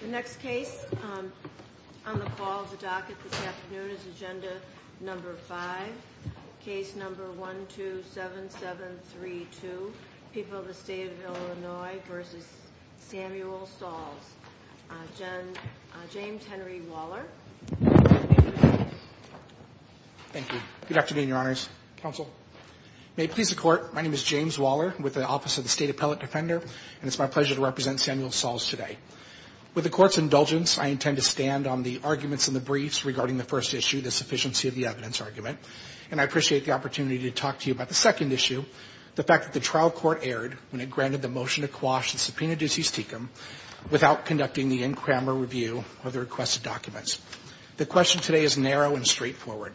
The next case on the call of the docket this afternoon is Agenda No. 5, Case No. 127732, People of the State of Illinois v. Samuel Sauls. James Henry Waller. Thank you. Good afternoon, Your Honors. Counsel. May it please the Court, my name is James Waller with the Office of the State Appellate Defender, and it's my pleasure to represent Samuel Sauls today. With the Court's indulgence, I intend to stand on the arguments in the briefs regarding the first issue, the sufficiency of the evidence argument. And I appreciate the opportunity to talk to you about the second issue, the fact that the trial court erred when it granted the motion to quash the subpoena duties tecum without conducting the in-crammer review of the requested documents. The question today is narrow and straightforward.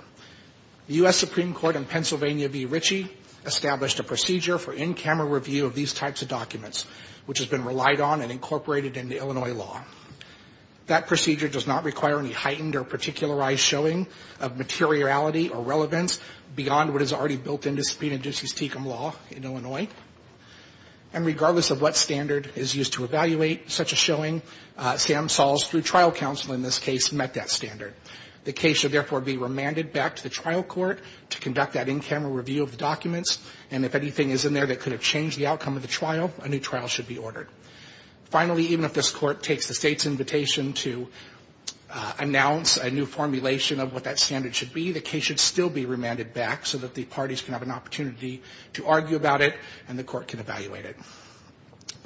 The U.S. Supreme Court in Pennsylvania v. Ritchie established a procedure for in-crammer review of these types of documents, which has been relied on and incorporated into Illinois law. That procedure does not require any heightened or particularized showing of materiality or relevance beyond what is already built into subpoena duties tecum law in Illinois. And regardless of what standard is used to evaluate such a showing, Sam Sauls, through trial counsel in this case, met that standard. The case should therefore be remanded back to the trial court to conduct that in-crammer review of the documents, and if anything is in there that could have changed the outcome of the trial, a new trial should be ordered. Finally, even if this Court takes the State's invitation to announce a new formulation of what that standard should be, the case should still be remanded back so that the parties can have an opportunity to argue about it and the Court can evaluate it.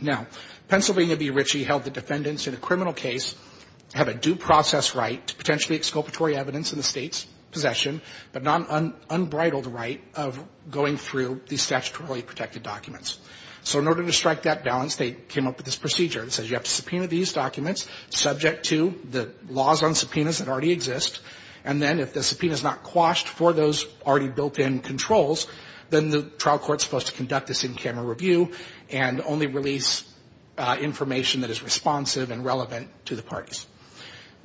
Now, Pennsylvania v. Ritchie held the defendants in a criminal case have a due process right to potentially exculpatory evidence in the State's possession, but not an unbridled right of going through these statutorily protected documents. So in order to strike that balance, they came up with this procedure that says you have to subpoena these documents subject to the laws on subpoenas that already exist, and then if the subpoena is not quashed for those already built-in controls, then the trial court is supposed to conduct this in-crammer review and only release information that is responsive and relevant to the parties.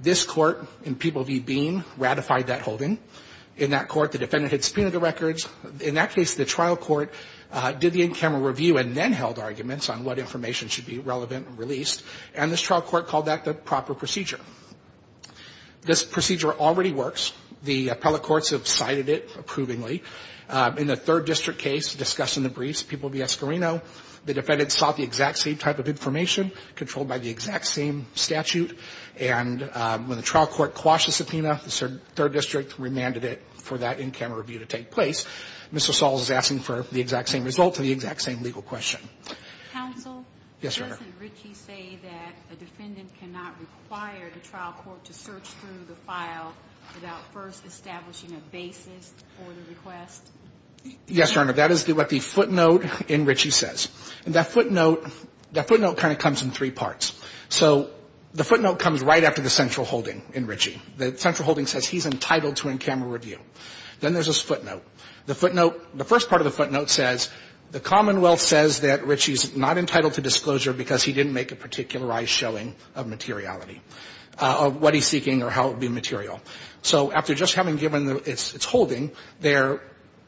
This Court in People v. Bean ratified that holding. In that court, the defendant had subpoenaed the records. In that case, the trial court did the in-crammer review and then held arguments on what information should be relevant and released, and this trial court called that the proper procedure. This procedure already works. The appellate courts have cited it approvingly. In the Third District case discussed in the briefs, People v. Escorino, the defendants sought the exact same type of information, controlled by the exact same statute, and when the trial court quashed the subpoena, the Third District remanded it for that in-crammer review to take place. Mr. Saul is asking for the exact same result and the exact same legal question. Counsel? Yes, Your Honor. Doesn't Ritchie say that a defendant cannot require the trial court to search through the file without first establishing a basis for the request? Yes, Your Honor. That is what the footnote in Ritchie says. And that footnote, that footnote kind of comes in three parts. So the footnote comes right after the central holding in Ritchie. The central holding says he's entitled to in-crammer review. Then there's this footnote. The footnote, the first part of the footnote says the Commonwealth says that Ritchie is not entitled to disclosure because he didn't make a particularized showing of materiality, of what he's seeking or how it would be material. So after just having given its holding, they're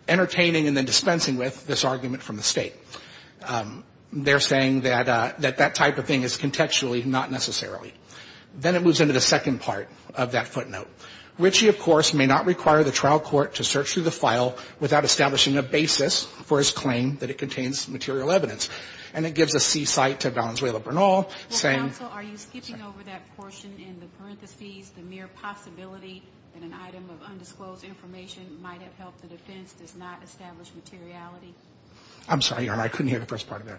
entertaining and then dispensing with this argument from the State. They're saying that that type of thing is contextually not necessarily. Then it moves into the second part of that footnote. Ritchie, of course, may not require the trial court to search through the file without establishing a basis for his claim that it contains material evidence. And it gives a seasight to Valenzuela Bernal, saying. Well, counsel, are you skipping over that portion in the parentheses, the mere possibility that an item of undisclosed information might have helped the defense does not establish materiality? I'm sorry, Your Honor. I couldn't hear the first part of that.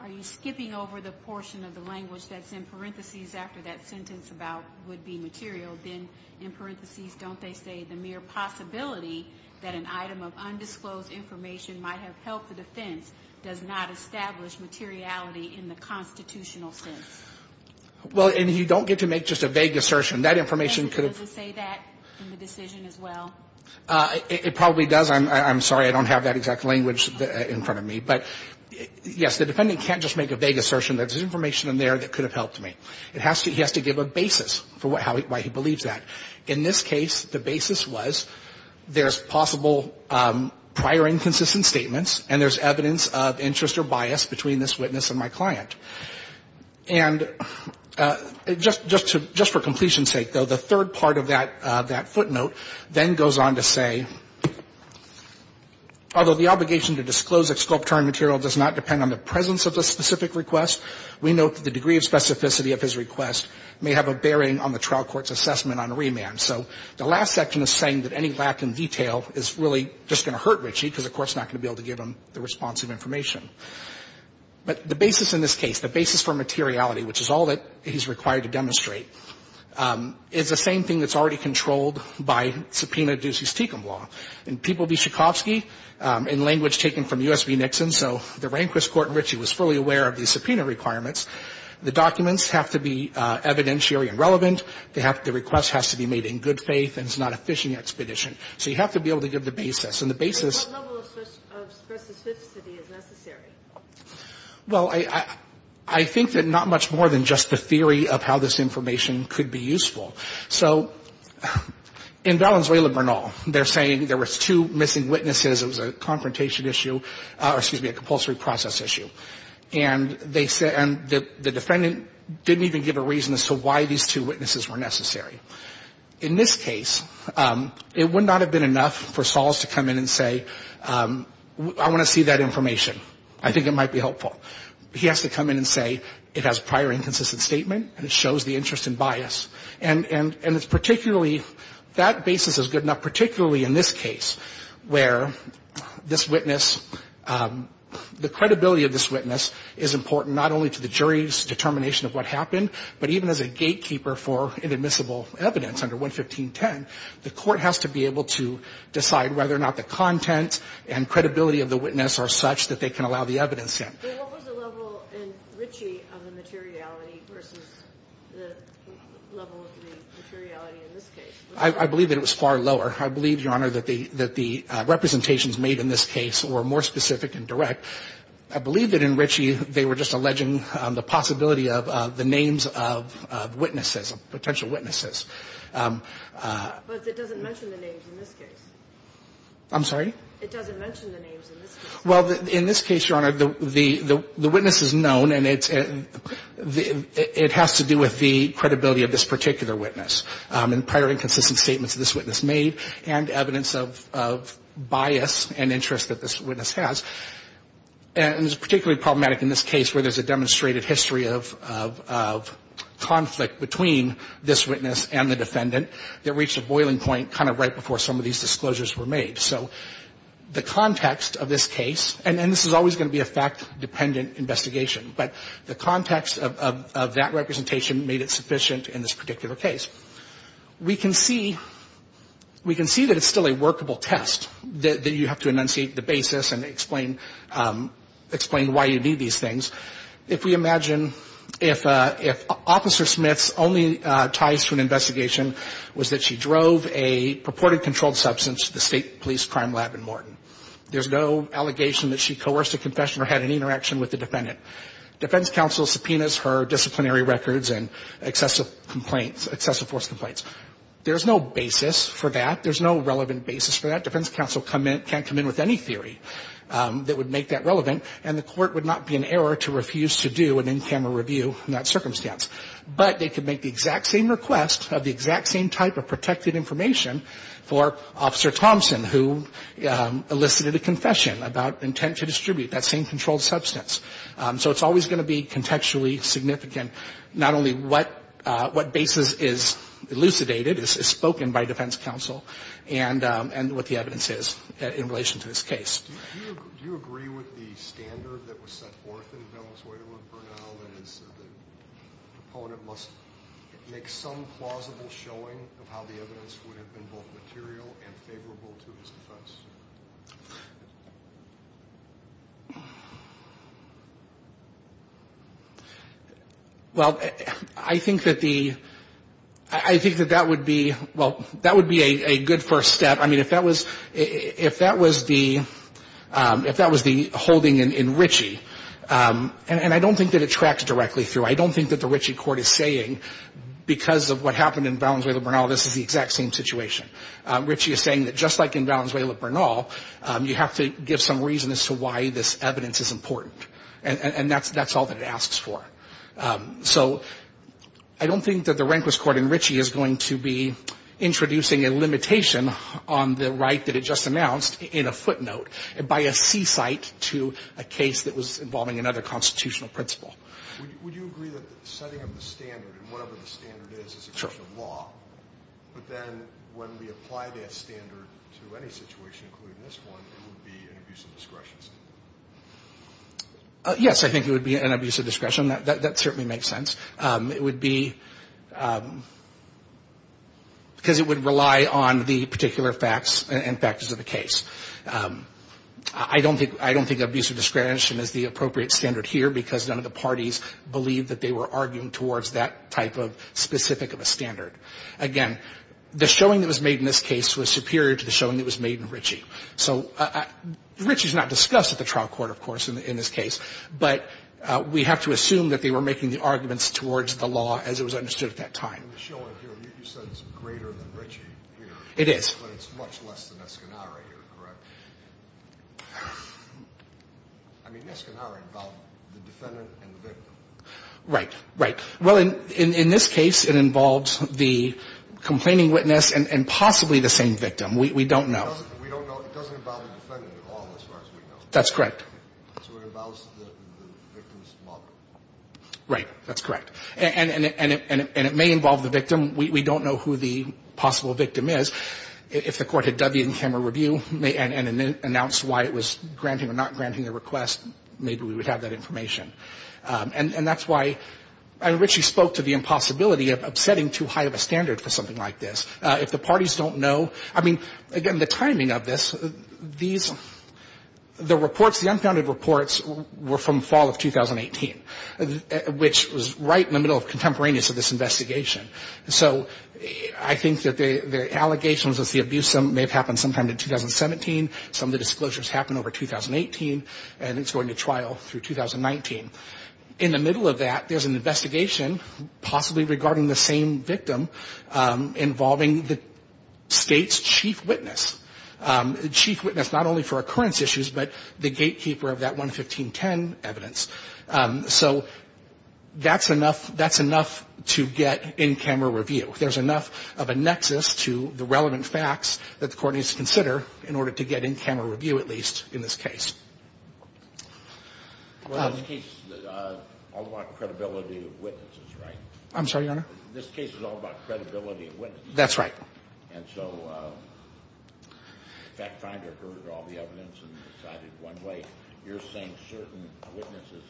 Are you skipping over the portion of the language that's in parentheses after that sentence about would be material? Then in parentheses, don't they say the mere possibility that an item of undisclosed information might have helped the defense does not establish materiality in the constitutional sense? Well, and you don't get to make just a vague assertion. That information could have. Does it say that in the decision as well? It probably does. I'm sorry. I don't have that exact language in front of me. But, yes, the defendant can't just make a vague assertion that there's information in there that could have helped me. He has to give a basis for why he believes that. In this case, the basis was there's possible prior inconsistent statements and there's evidence of interest or bias between this witness and my client. And just for completion's sake, though, the third part of that footnote then goes on to say, although the obligation to disclose exculpatory material does not depend on the presence of the specific request, we note that the degree of specificity of his request may have a bearing on the trial court's assessment on remand. So the last section is saying that any lack in detail is really just going to hurt Richie because the court's not going to be able to give him the responsive information. But the basis in this case, the basis for materiality, which is all that he's required to demonstrate, is the same thing that's already controlled by subpoena And people be Tchaikovsky, in language taken from U.S. v. Nixon, so the Rehnquist court in Richie was fully aware of the subpoena requirements. The documents have to be evidentiary and relevant. The request has to be made in good faith and it's not a phishing expedition. So you have to be able to give the basis. And the basis of specificity is necessary. Well, I think that not much more than just the theory of how this information could be useful. So in Valenzuela-Bernal, they're saying there was two missing witnesses. It was a confrontation issue or, excuse me, a compulsory process issue. And the defendant didn't even give a reason as to why these two witnesses were necessary. In this case, it would not have been enough for Sahls to come in and say, I want to see that information. I think it might be helpful. He has to come in and say, it has prior inconsistent statement and it shows the interest in bias. And it's particularly, that basis is good enough, particularly in this case where this witness, the credibility of this witness is important not only to the jury's determination of what happened, but even as a gatekeeper for inadmissible evidence under 11510. The court has to be able to decide whether or not the content and credibility of the witness are such that they can allow the evidence in. But what was the level in Ritchie of the materiality versus the level of the materiality in this case? I believe that it was far lower. I believe, Your Honor, that the representations made in this case were more specific and direct. I believe that in Ritchie, they were just alleging the possibility of the names of witnesses, of potential witnesses. But it doesn't mention the names in this case. I'm sorry? It doesn't mention the names in this case. Well, in this case, Your Honor, the witness is known and it has to do with the credibility of this particular witness and prior inconsistent statements this witness made and evidence of bias and interest that this witness has. And it's particularly problematic in this case where there's a demonstrated history of conflict between this witness and the defendant that reached a boiling point kind of right before some of these disclosures were made. So the context of this case, and this is always going to be a fact-dependent investigation, but the context of that representation made it sufficient in this particular case. We can see that it's still a workable test that you have to enunciate the basis and explain why you need these things. If we imagine if Officer Smith's only ties to an investigation was that she drove a purported controlled substance, the State Police Crime Lab in Morton. There's no allegation that she coerced a confession or had any interaction with the defendant. Defense counsel subpoenas her disciplinary records and excessive complaints, excessive force complaints. There's no basis for that. There's no relevant basis for that. Defense counsel can't come in with any theory that would make that relevant, and the court would not be in error to refuse to do an in-camera review in that circumstance. But they could make the exact same request of the exact same type of protected information for Officer Thompson, who elicited a confession about intent to distribute that same controlled substance. So it's always going to be contextually significant not only what basis is elucidated, is spoken by defense counsel, and what the evidence is in relation to this case. Do you agree with the standard that was set forth in Bellis-Weidel and Bernal, that the proponent must make some plausible showing of how the evidence would have been both material and favorable to his defense? Well, I think that the – I think that that would be – well, that would be a good first step. I mean, if that was – if that was the holding in Ritchie – and I don't think that it tracks directly through. I don't think that the Ritchie court is saying because of what happened in Bellis-Weidel and Bernal, this is the exact same situation. Ritchie is saying that just like in Bellis-Weidel and Bernal, you have to give some reason as to why this evidence is important, and that's all that it asks for. So I don't think that the Rehnquist court in Ritchie is going to be introducing a limitation on the right that it just announced in a footnote, by a seasight to a case that was involving another constitutional principle. Would you agree that the setting of the standard, whatever the standard is, is a question of law, but then when we apply that standard to any situation, including this one, it would be an abuse of discretion? Yes, I think it would be an abuse of discretion. That certainly makes sense. It would be – because it would rely on the particular facts and factors of the case. I don't think – I don't think abuse of discretion is the appropriate standard here because none of the parties believe that they were arguing towards that type of specific of a standard. Again, the showing that was made in this case was superior to the showing that was made in Ritchie. So Ritchie is not discussed at the trial court, of course, in this case, but we have to assume that they were making the arguments towards the law as it was understood at that time. In the showing here, you said it's greater than Ritchie here. It is. But it's much less than Escanara here, correct? I mean, Escanara involved the defendant and the victim. Right. Right. Well, in this case, it involves the complaining witness and possibly the same victim. We don't know. We don't know. It doesn't involve the defendant at all as far as we know. That's correct. So it involves the victim's mother. Right. That's correct. And it may involve the victim. We don't know who the possible victim is. If the Court had done the in-camera review and announced why it was granting or not granting the request, maybe we would have that information. And that's why – and Ritchie spoke to the impossibility of setting too high of a standard for something like this. If the parties don't know – I mean, again, the timing of this, these – the reports, the unfounded reports were from fall of 2018, which was right in the middle of contemporaneous of this investigation. So I think that the allegations of the abuse may have happened sometime in 2017. Some of the disclosures happened over 2018. And it's going to trial through 2019. In the middle of that, there's an investigation possibly regarding the same victim involving the State's chief witness, the chief witness not only for occurrence issues but the gatekeeper of that 11510 evidence. So that's enough – that's enough to get in-camera review. There's enough of a nexus to the relevant facts that the Court needs to consider in order to get in-camera review, at least in this case. Well, this case is all about credibility of witnesses, right? I'm sorry, Your Honor? This case is all about credibility of witnesses. That's right. And so FactFinder heard all the evidence and decided one way. You're saying certain witnesses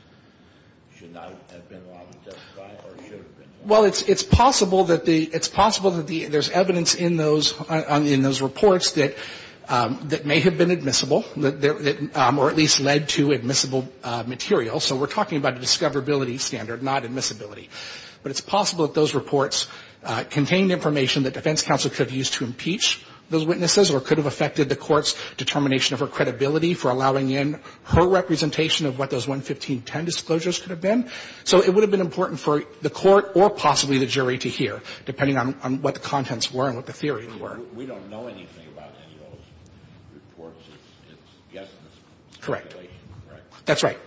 should not have been allowed to testify or should have been? Well, it's possible that the – it's possible that there's evidence in those – in those reports that may have been admissible, or at least led to admissible material. So we're talking about a discoverability standard, not admissibility. But it's possible that those reports contained information that defense counsel could have used to impeach those witnesses or could have affected the Court's determination of her credibility for allowing in her representation of what those 11510 disclosures could have been. So it would have been important for the Court or possibly the jury to hear, depending on what the contents were and what the theories were. We don't know anything about any of those reports. It's just a speculation, right? Correct. That's right.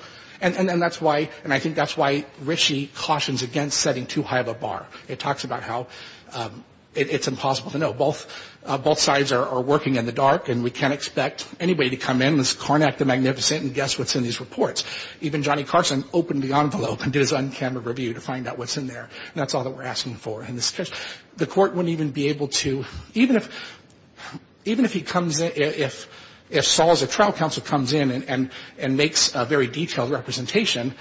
And that's why – and I think that's why Rischi cautions against setting too high of a bar. It talks about how it's impossible to know. Both sides are working in the dark, and we can't expect anybody to come in and say, Carnac, the Magnificent, and guess what's in these reports. Even Johnny Carson opened the envelope and did his on-camera review to find out what's in there. And that's all that we're asking for in this case. The Court wouldn't even be able to – even if – even if he comes in – if Saul as a trial counsel comes in and makes a very detailed representation,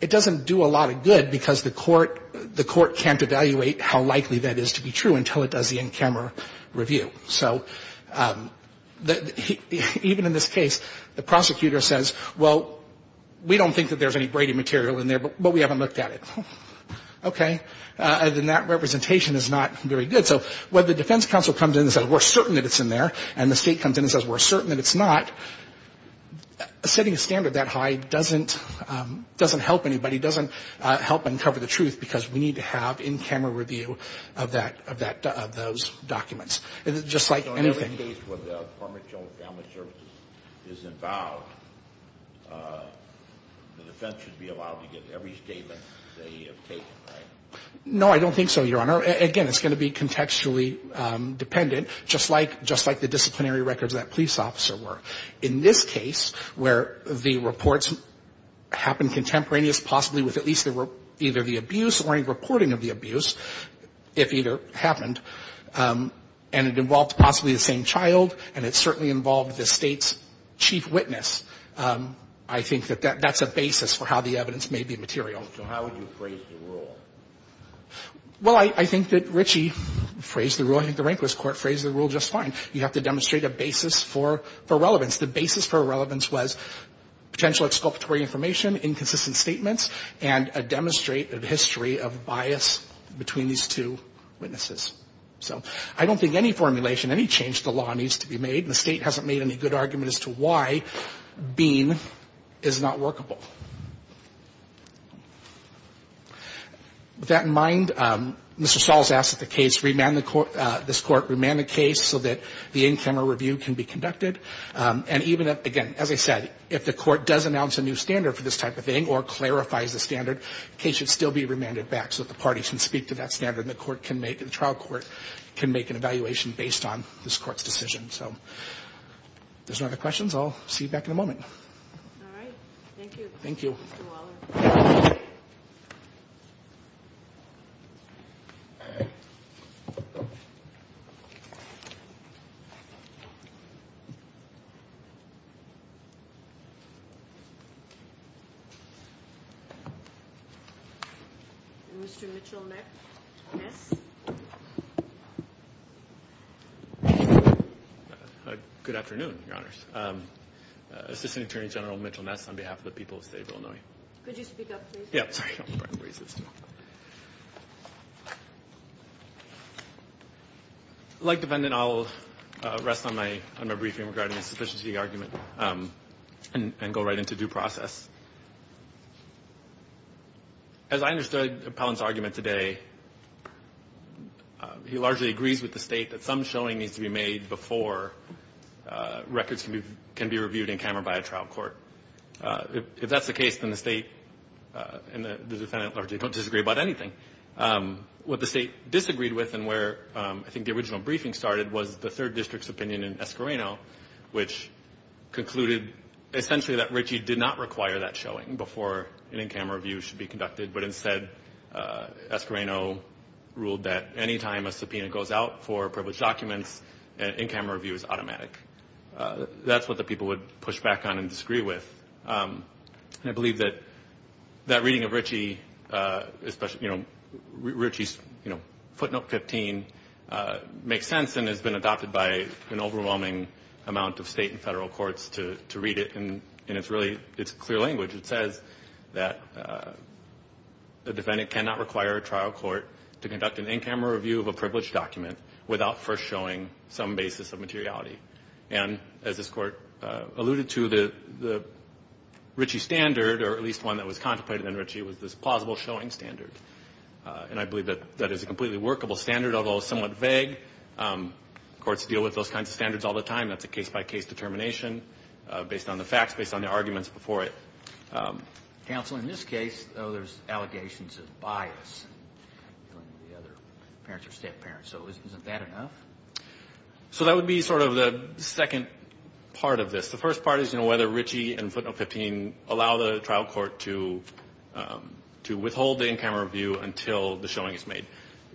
it doesn't do a lot of good because the Court can't evaluate how likely that is to be true until it does the in-camera review. So even in this case, the prosecutor says, well, we don't think that there's any Brady material in there, but we haven't looked at it. Okay. Then that representation is not very good. So when the defense counsel comes in and says, we're certain that it's in there, and the State comes in and says, we're certain that it's not, setting a standard that high doesn't – doesn't help anybody, doesn't help uncover the truth, because we need to have in-camera review of that – of that – of those documents. It's just like anything. Any case where the Department of Children and Family Services is involved, the defense should be allowed to give every statement they have taken, right? No, I don't think so, Your Honor. Again, it's going to be contextually dependent, just like – just like the disciplinary records of that police officer were. In this case, where the reports happened contemporaneous, possibly with at least either the abuse or any reporting of the abuse, if either happened, and it involved possibly the same child, and it certainly involved the State's chief witness, I think that that's a basis for how the evidence may be material. So how would you phrase the rule? Well, I think that Richie phrased the rule. I think the Rehnquist Court phrased the rule just fine. You have to demonstrate a basis for relevance. The basis for relevance was potential exculpatory information, inconsistent statements, and a demonstrated history of bias between these two witnesses. So I don't think any formulation, any change to the law needs to be made, and the State hasn't made any good argument as to why being is not workable. With that in mind, Mr. Stahls asked that the case – this Court remand the case so that the in-camera review can be conducted. And even, again, as I said, if the Court does announce a new standard for this type of thing or clarifies the standard, the case should still be remanded back so that the parties can speak to that standard, and the trial court can make an evaluation based on this Court's decision. So if there's no other questions, I'll see you back in a moment. Thank you, Mr. Waller. Thank you. Mr. Mitchell-Ness. Good afternoon, Your Honors. Assistant Attorney General Mitchell-Ness on behalf of the people of the State of Illinois. Could you speak up, please? Yeah, sorry. I'll raise this. And go right into due process. As I understood Palin's argument today, he largely agrees with the State that some showing needs to be made before records can be reviewed in camera by a trial court. If that's the case, then the State and the defendant largely don't disagree about anything. What the State disagreed with and where I think the original briefing started was the 3rd District's opinion in Esquireno, which concluded essentially that Ritchie did not require that showing before an in-camera review should be conducted, but instead Esquireno ruled that any time a subpoena goes out for privileged documents, an in-camera review is automatic. That's what the people would push back on and disagree with. And I believe that that reading of Ritchie, especially Ritchie's footnote 15, makes sense and has been adopted by an overwhelming amount of State and Federal courts to read it. And it's really clear language. It says that the defendant cannot require a trial court to conduct an in-camera review of a privileged document without first showing some basis of materiality. And as this Court alluded to, the Ritchie standard, or at least one that was contemplated in Ritchie, was this plausible showing standard. And I believe that that is a completely workable standard, although somewhat vague. Courts deal with those kinds of standards all the time. That's a case-by-case determination based on the facts, based on the arguments before it. Counsel, in this case, though, there's allegations of bias. The other parents are step-parents. So isn't that enough? So that would be sort of the second part of this. The first part is, you know, whether Ritchie and footnote 15 allow the trial court to withhold the in-camera review until the showing is made.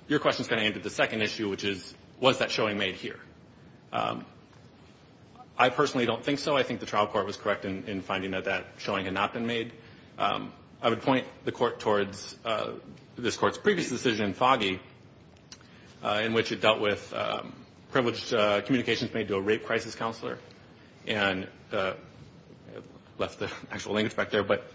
Your question is going to end at the second issue, which is, was that showing made here? I personally don't think so. I think the trial court was correct in finding that that showing had not been made. I would point the Court towards this Court's previous decision, Foggy, in which it dealt with privileged communications made to a rape crisis counselor. And I left the actual language back there, but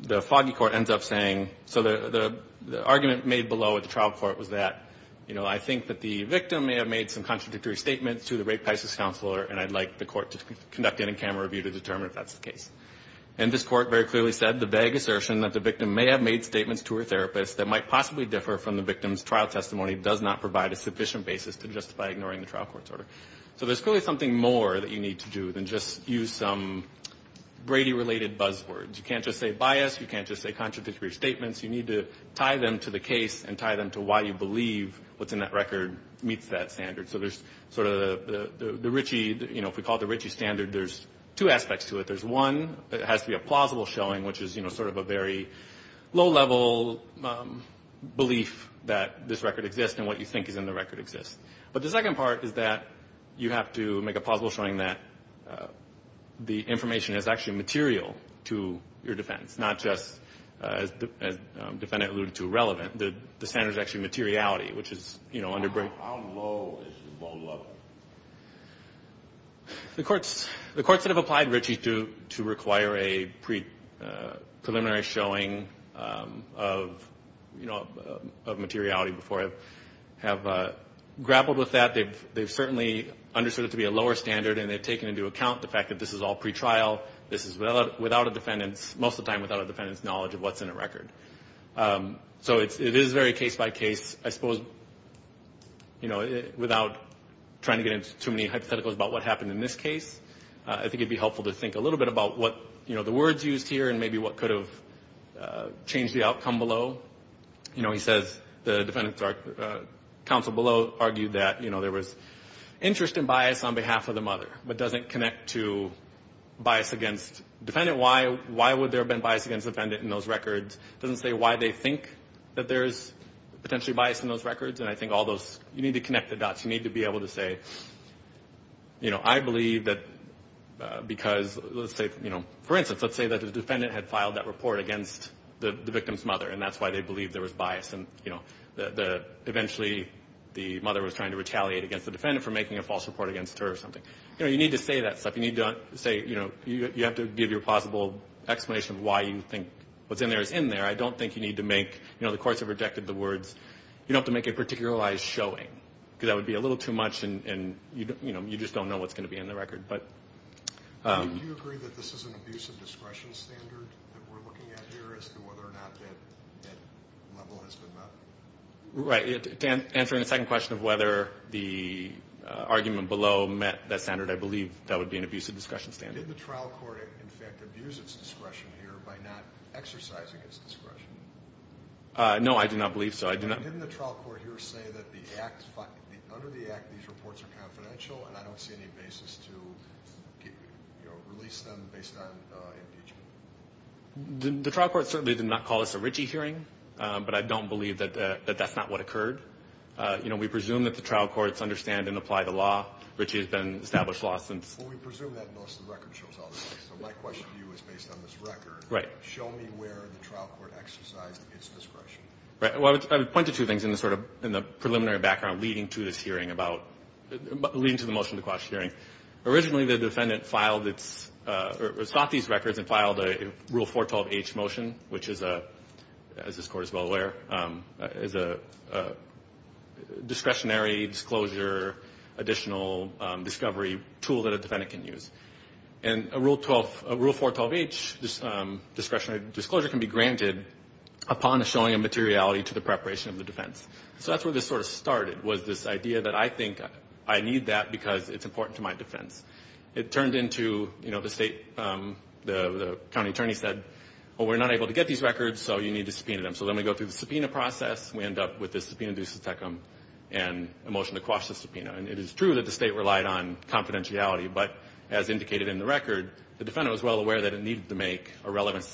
the Foggy Court ends up saying, so the argument made below at the trial court was that, you know, I think that the victim may have made some contradictory statements to the rape crisis counselor, and I'd like the Court to conduct in-camera review to determine if that's the case. And this Court very clearly said, the vague assertion that the victim may have made statements to her therapist that might possibly differ from the victim's trial testimony does not provide a sufficient basis to justify ignoring the trial court's order. So there's clearly something more that you need to do than just use some Brady-related buzzwords. You can't just say bias. You can't just say contradictory statements. You need to tie them to the case and tie them to why you believe what's in that record meets that standard. So there's sort of the Ritchie, you know, if we call it the Ritchie standard, there's two aspects to it. There's one that has to be a plausible showing, which is, you know, sort of a very low-level belief that this record exists and what you think is in the record exists. But the second part is that you have to make a plausible showing that the information is actually material to your defense, not just, as the defendant alluded to, relevant. The standard is actually materiality, which is, you know, underbrand. How low is the low-level? The courts that have applied Ritchie to require a preliminary showing of, you know, of materiality before, have grappled with that. They've certainly understood it to be a lower standard, and they've taken into account the fact that this is all pretrial. This is without a defendant's, most of the time, without a defendant's knowledge of what's in a record. So it is very case-by-case, I suppose, you know, without trying to get into too many hypotheticals about what happened in this case. I think it would be helpful to think a little bit about what, you know, the words used here and maybe what could have changed the outcome below. You know, he says the defendant's counsel below argued that, you know, there was interest and bias on behalf of the mother, but doesn't connect to bias against defendant. Why would there have been bias against defendant in those records? Doesn't say why they think that there's potentially bias in those records. And I think all those, you need to connect the dots. You need to be able to say, you know, I believe that because, let's say, you know, for instance, let's say that the defendant had filed that report against the victim's mother, and that's why they believed there was bias, and, you know, eventually the mother was trying to retaliate against the defendant for making a false report against her or something. You know, you need to say that stuff. You need to say, you know, you have to give your plausible explanation of why you think what's in there is in there. I don't think you need to make, you know, the courts have rejected the words. You don't have to make a particularized showing, because that would be a little too much, and, you know, you just don't know what's going to be in the record. Do you agree that this is an abuse of discretion standard that we're looking at here as to whether or not that level has been met? Right. Answering the second question of whether the argument below met that standard, I believe that would be an abuse of discretion standard. Did the trial court, in fact, abuse its discretion here by not exercising its discretion? No, I do not believe so. Didn't the trial court here say that under the Act these reports are confidential, and I don't see any basis to release them based on impeachment? The trial court certainly did not call this a Ritchie hearing, but I don't believe that that's not what occurred. You know, we presume that the trial courts understand and apply the law. Ritchie has been established law since. Well, we presume that unless the record shows otherwise. So my question to you is based on this record. Right. Show me where the trial court exercised its discretion. Well, I would point to two things in the sort of preliminary background leading to this hearing about, leading to the motion to quash the hearing. Originally, the defendant filed its, or sought these records and filed a Rule 412H motion, which is, as this Court is well aware, is a discretionary disclosure additional discovery tool that a defendant can use. And a Rule 412H discretionary disclosure can be granted upon showing a materiality to the preparation of the defense. So that's where this sort of started, was this idea that I think I need that because it's important to my defense. It turned into, you know, the state, the county attorney said, well, we're not able to get these records, so you need to subpoena them. So then we go through the subpoena process. We end up with the subpoena du subtecum and a motion to quash the subpoena. And it is true that the state relied on confidentiality, but as indicated in the record, the defendant was well aware that it needed to make a relevant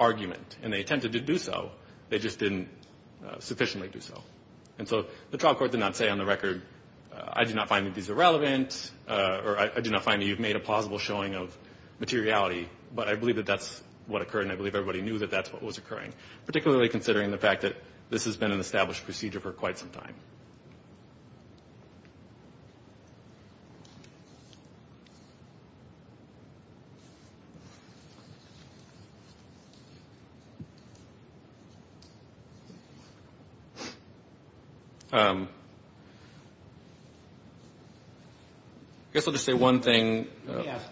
argument. And they attempted to do so. They just didn't sufficiently do so. And so the trial court did not say on the record, I do not find that these are relevant, or I do not find that you've made a plausible showing of materiality. But I believe that that's what occurred, and I believe everybody knew that that's what was occurring, particularly considering the fact that this has been an established procedure for quite some time. I guess I'll just say one thing. Let me ask,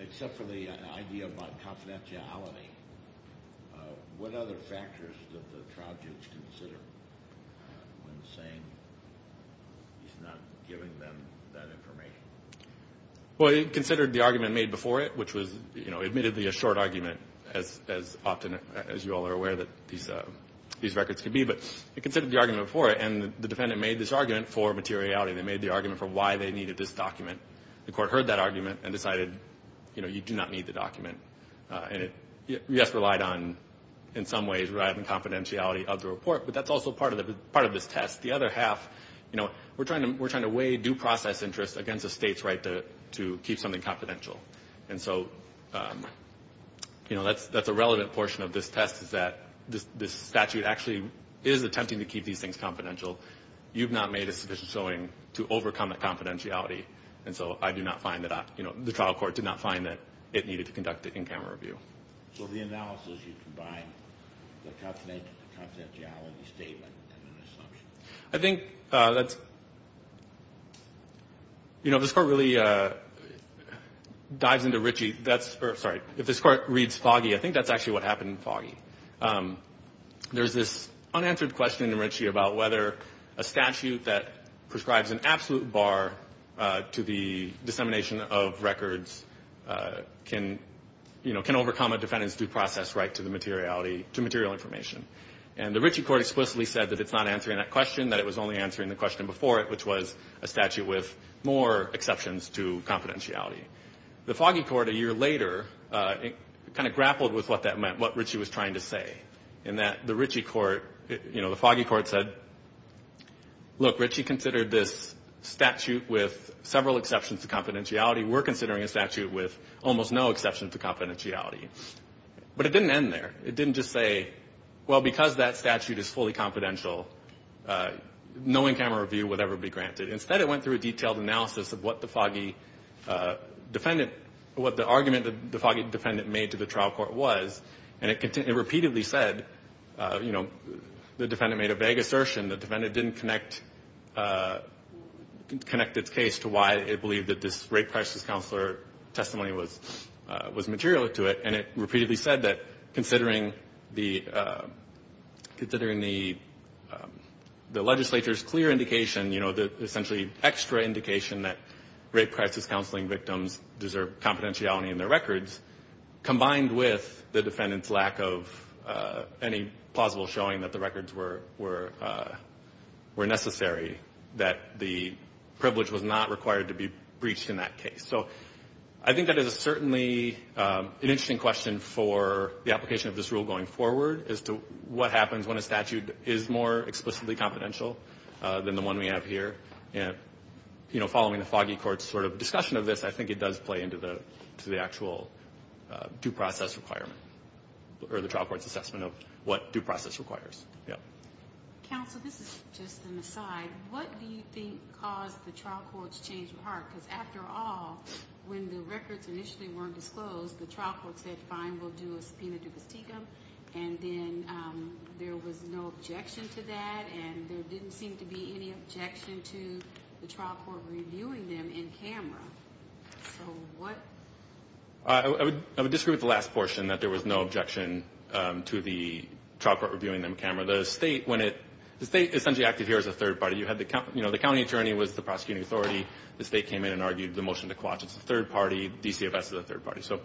except for the idea about confidentiality, what other factors did the trial judge consider when saying he's not giving them that information? Well, he considered the argument made before it, which was, you know, admittedly a short argument, as often as you all are aware that these records can be. But he considered the argument before it, and the defendant made this argument for materiality. They made the argument for why they needed this document. The court heard that argument and decided, you know, you do not need the document. And it, yes, relied on, in some ways, relied on confidentiality of the report, but that's also part of this test. The other half, you know, we're trying to weigh due process interest against a state's right to keep something confidential. And so, you know, that's a relevant portion of this test, is that this statute actually is attempting to keep these things confidential. You've not made a sufficient showing to overcome that confidentiality. And so I do not find that I, you know, the trial court did not find that it needed to conduct an in-camera review. So the analysis, you combine the confidentiality statement and an assumption. I think that's, you know, if this court really dives into Ritchie, that's, sorry, if this court reads Foggy, there's this unanswered question in Ritchie about whether a statute that prescribes an absolute bar to the dissemination of records can, you know, can overcome a defendant's due process right to the materiality, to material information. And the Ritchie court explicitly said that it's not answering that question, that it was only answering the question before it, which was a statute with more exceptions to confidentiality. The Foggy court a year later kind of grappled with what that meant, what Ritchie was trying to say, in that the Ritchie court, you know, the Foggy court said, look, Ritchie considered this statute with several exceptions to confidentiality. We're considering a statute with almost no exceptions to confidentiality. But it didn't end there. It didn't just say, well, because that statute is fully confidential, no in-camera review would ever be granted. Instead, it went through a detailed analysis of what the Foggy defendant, what the argument that the Foggy defendant made to the trial court was, and it repeatedly said, you know, the defendant made a vague assertion. The defendant didn't connect its case to why it believed that this rape crisis counselor testimony was material to it. And it repeatedly said that considering the legislature's clear indication, you know, the essentially extra indication that rape crisis counseling victims deserve confidentiality in their records, combined with the defendant's lack of any plausible showing that the records were necessary, that the privilege was not required to be breached in that case. So I think that is certainly an interesting question for the application of this rule going forward, as to what happens when a statute is more explicitly confidential than the one we have here. And, you know, following the Foggy court's sort of discussion of this, I think it does play into the actual due process requirement or the trial court's assessment of what due process requires. Counsel, this is just an aside. What do you think caused the trial court's change of heart? Because after all, when the records initially weren't disclosed, the trial court said, fine, we'll do a subpoena dupas tecum. And then there was no objection to that. And there didn't seem to be any objection to the trial court reviewing them in camera. So what? I would disagree with the last portion, that there was no objection to the trial court reviewing them in camera. The state, when it – the state essentially acted here as a third party. You had the – you know, the county attorney was the prosecuting authority. The state came in and argued the motion to quash. It's a third party. DCFS is a third party. So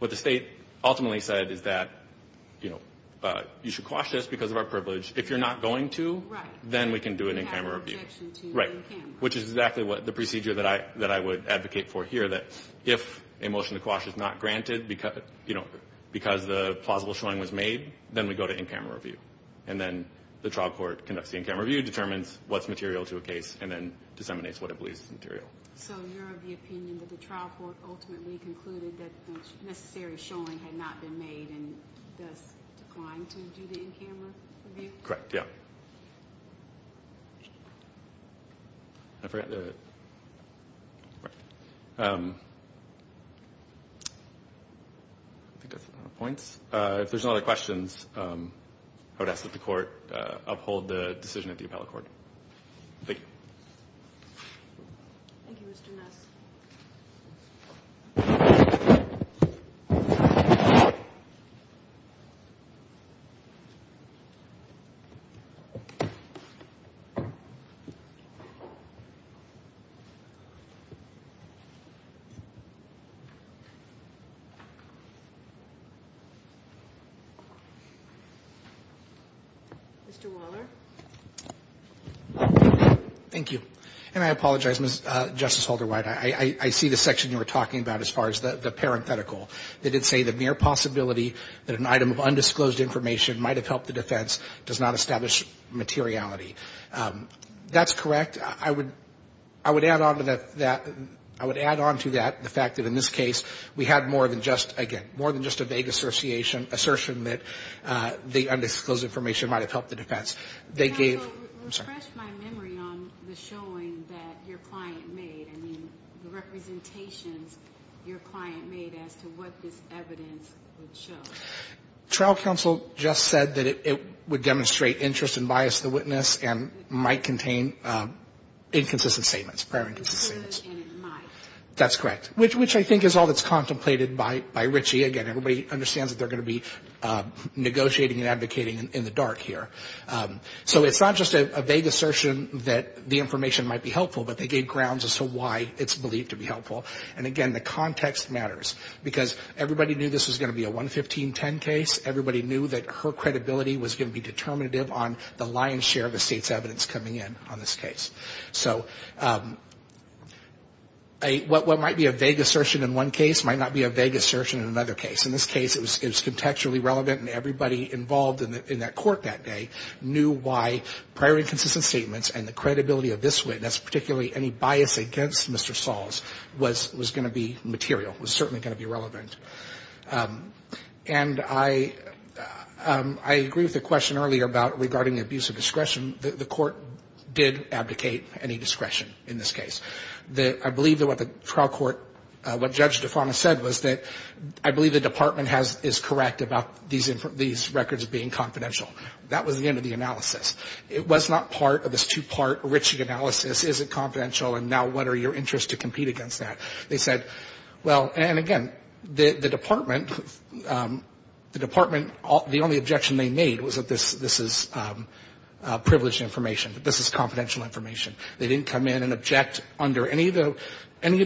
what the state ultimately said is that, you know, you should quash this because of our privilege. If you're not going to, then we can do it in camera review. Right. You have an objection to it in camera. Which is exactly what the procedure that I would advocate for here, that if a motion to quash is not granted because, you know, because the plausible showing was made, then we go to in-camera review. And then the trial court conducts the in-camera review, determines what's material to a case, and then disseminates what it believes is material. So you're of the opinion that the trial court ultimately concluded that the necessary showing had not been made and thus declined to do the in-camera review? Correct, yeah. I think that's enough points. If there's no other questions, I would ask that the court uphold the decision of the appellate court. Thank you. Thank you, Mr. Ness. Mr. Waller. Thank you. And I apologize, Justice Holder-White. I see the section you were talking about as far as the parenthetical. They did say the mere possibility that an item of undisclosed information might have helped the defense does not establish materiality. That's correct. In fact, I would add on to that the fact that in this case we had more than just, again, more than just a vague assertion that the undisclosed information might have helped the defense. They gave – Let me refresh my memory on the showing that your client made. I mean, the representations your client made as to what this evidence would show. Trial counsel just said that it would demonstrate interest and bias to the witness and might contain inconsistent statements, prior inconsistent statements. It could and it might. That's correct, which I think is all that's contemplated by Richie. Again, everybody understands that they're going to be negotiating and advocating in the dark here. So it's not just a vague assertion that the information might be helpful, and, again, the context matters because everybody knew this was going to be a 11510 case. Everybody knew that her credibility was going to be determinative on the lion's share of the state's evidence coming in on this case. So what might be a vague assertion in one case might not be a vague assertion in another case. In this case, it was contextually relevant, and everybody involved in that court that day knew why prior inconsistent statements and the credibility of this witness, particularly any bias against Mr. Sahls, was going to be material, was certainly going to be relevant. And I agree with the question earlier about regarding the abuse of discretion. The court did abdicate any discretion in this case. I believe that what the trial court, what Judge Defana said was that I believe the Department is correct about these records being confidential. That was the end of the analysis. It was not part of this two-part Ritchie analysis. Is it confidential, and now what are your interests to compete against that? They said, well, and, again, the Department, the Department, the only objection they made was that this is privileged information, that this is confidential information. They didn't come in and object under any of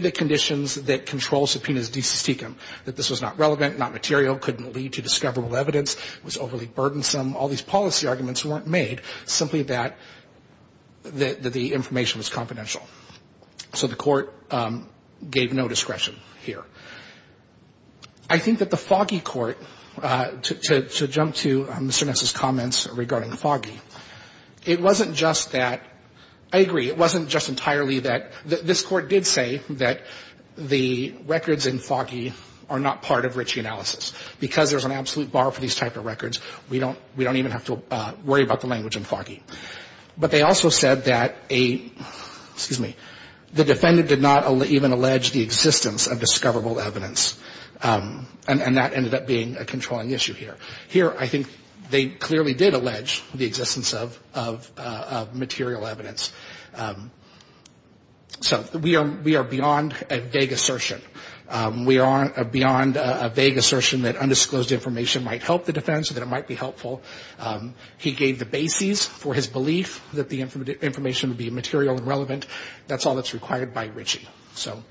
the conditions that control subpoenas decis tecum, that this was not relevant, not material, couldn't lead to discoverable evidence, was overly burdensome, all these policy arguments weren't made, simply that the information was confidential. So the court gave no discretion here. I think that the Foggy Court, to jump to Mr. Ness's comments regarding Foggy, it wasn't just that, I agree, it wasn't just entirely that. This Court did say that the records in Foggy are not part of Ritchie analysis because there's an absolute bar for these type of records. We don't even have to worry about the language in Foggy. But they also said that a, excuse me, the defendant did not even allege the existence of discoverable evidence, and that ended up being a controlling issue here. Here, I think they clearly did allege the existence of material evidence. So we are beyond a vague assertion. We are beyond a vague assertion that undisclosed information might help the defense or that it might be helpful. He gave the bases for his belief that the information would be material and relevant. That's all that's required by Ritchie. So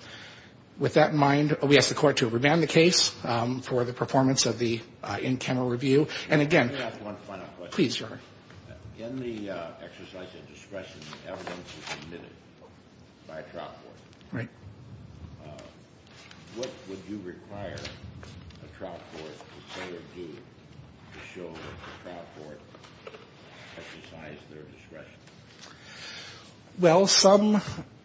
with that in mind, we ask the Court to remand the case for the performance of the in-camera review. And again, please, Your Honor. In the exercise of discretion, the evidence was submitted by a trial court. Right. What would you require a trial court to say or do to show that the trial court exercised their discretion? Well, some,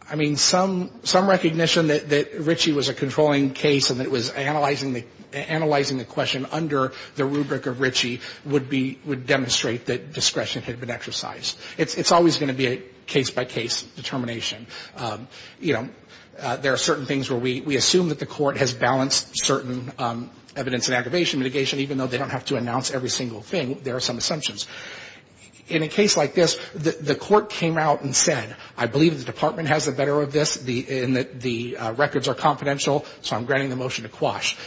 I mean, some recognition that Ritchie was a controlling case and that it was analyzing the question under the rubric of Ritchie would be, would demonstrate that discretion had been exercised. It's always going to be a case-by-case determination. You know, there are certain things where we assume that the Court has balanced certain evidence and aggravation mitigation, even though they don't have to announce every single thing. There are some assumptions. In a case like this, the Court came out and said, I believe the Department has the better of this in that the records are confidential, so I'm granting the motion to quash.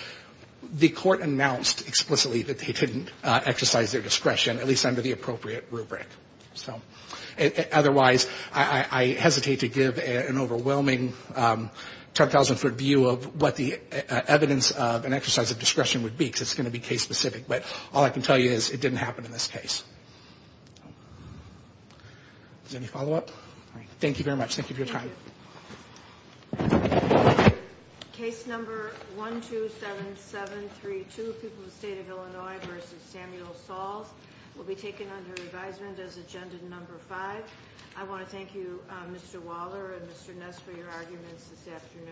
The Court announced explicitly that they didn't exercise their discretion, at least under the appropriate rubric. So otherwise, I hesitate to give an overwhelming 10,000-foot view of what the evidence of an exercise of discretion would be, because it's going to be case-specific. But all I can tell you is it didn't happen in this case. Does anybody have a follow-up? All right. Thank you very much. Thank you for your time. Thank you. Case number 127732, People of the State of Illinois v. Samuel Sahls, will be taken under advisement as Agenda No. 5. I want to thank you, Mr. Waller and Mr. Ness, for your arguments this afternoon.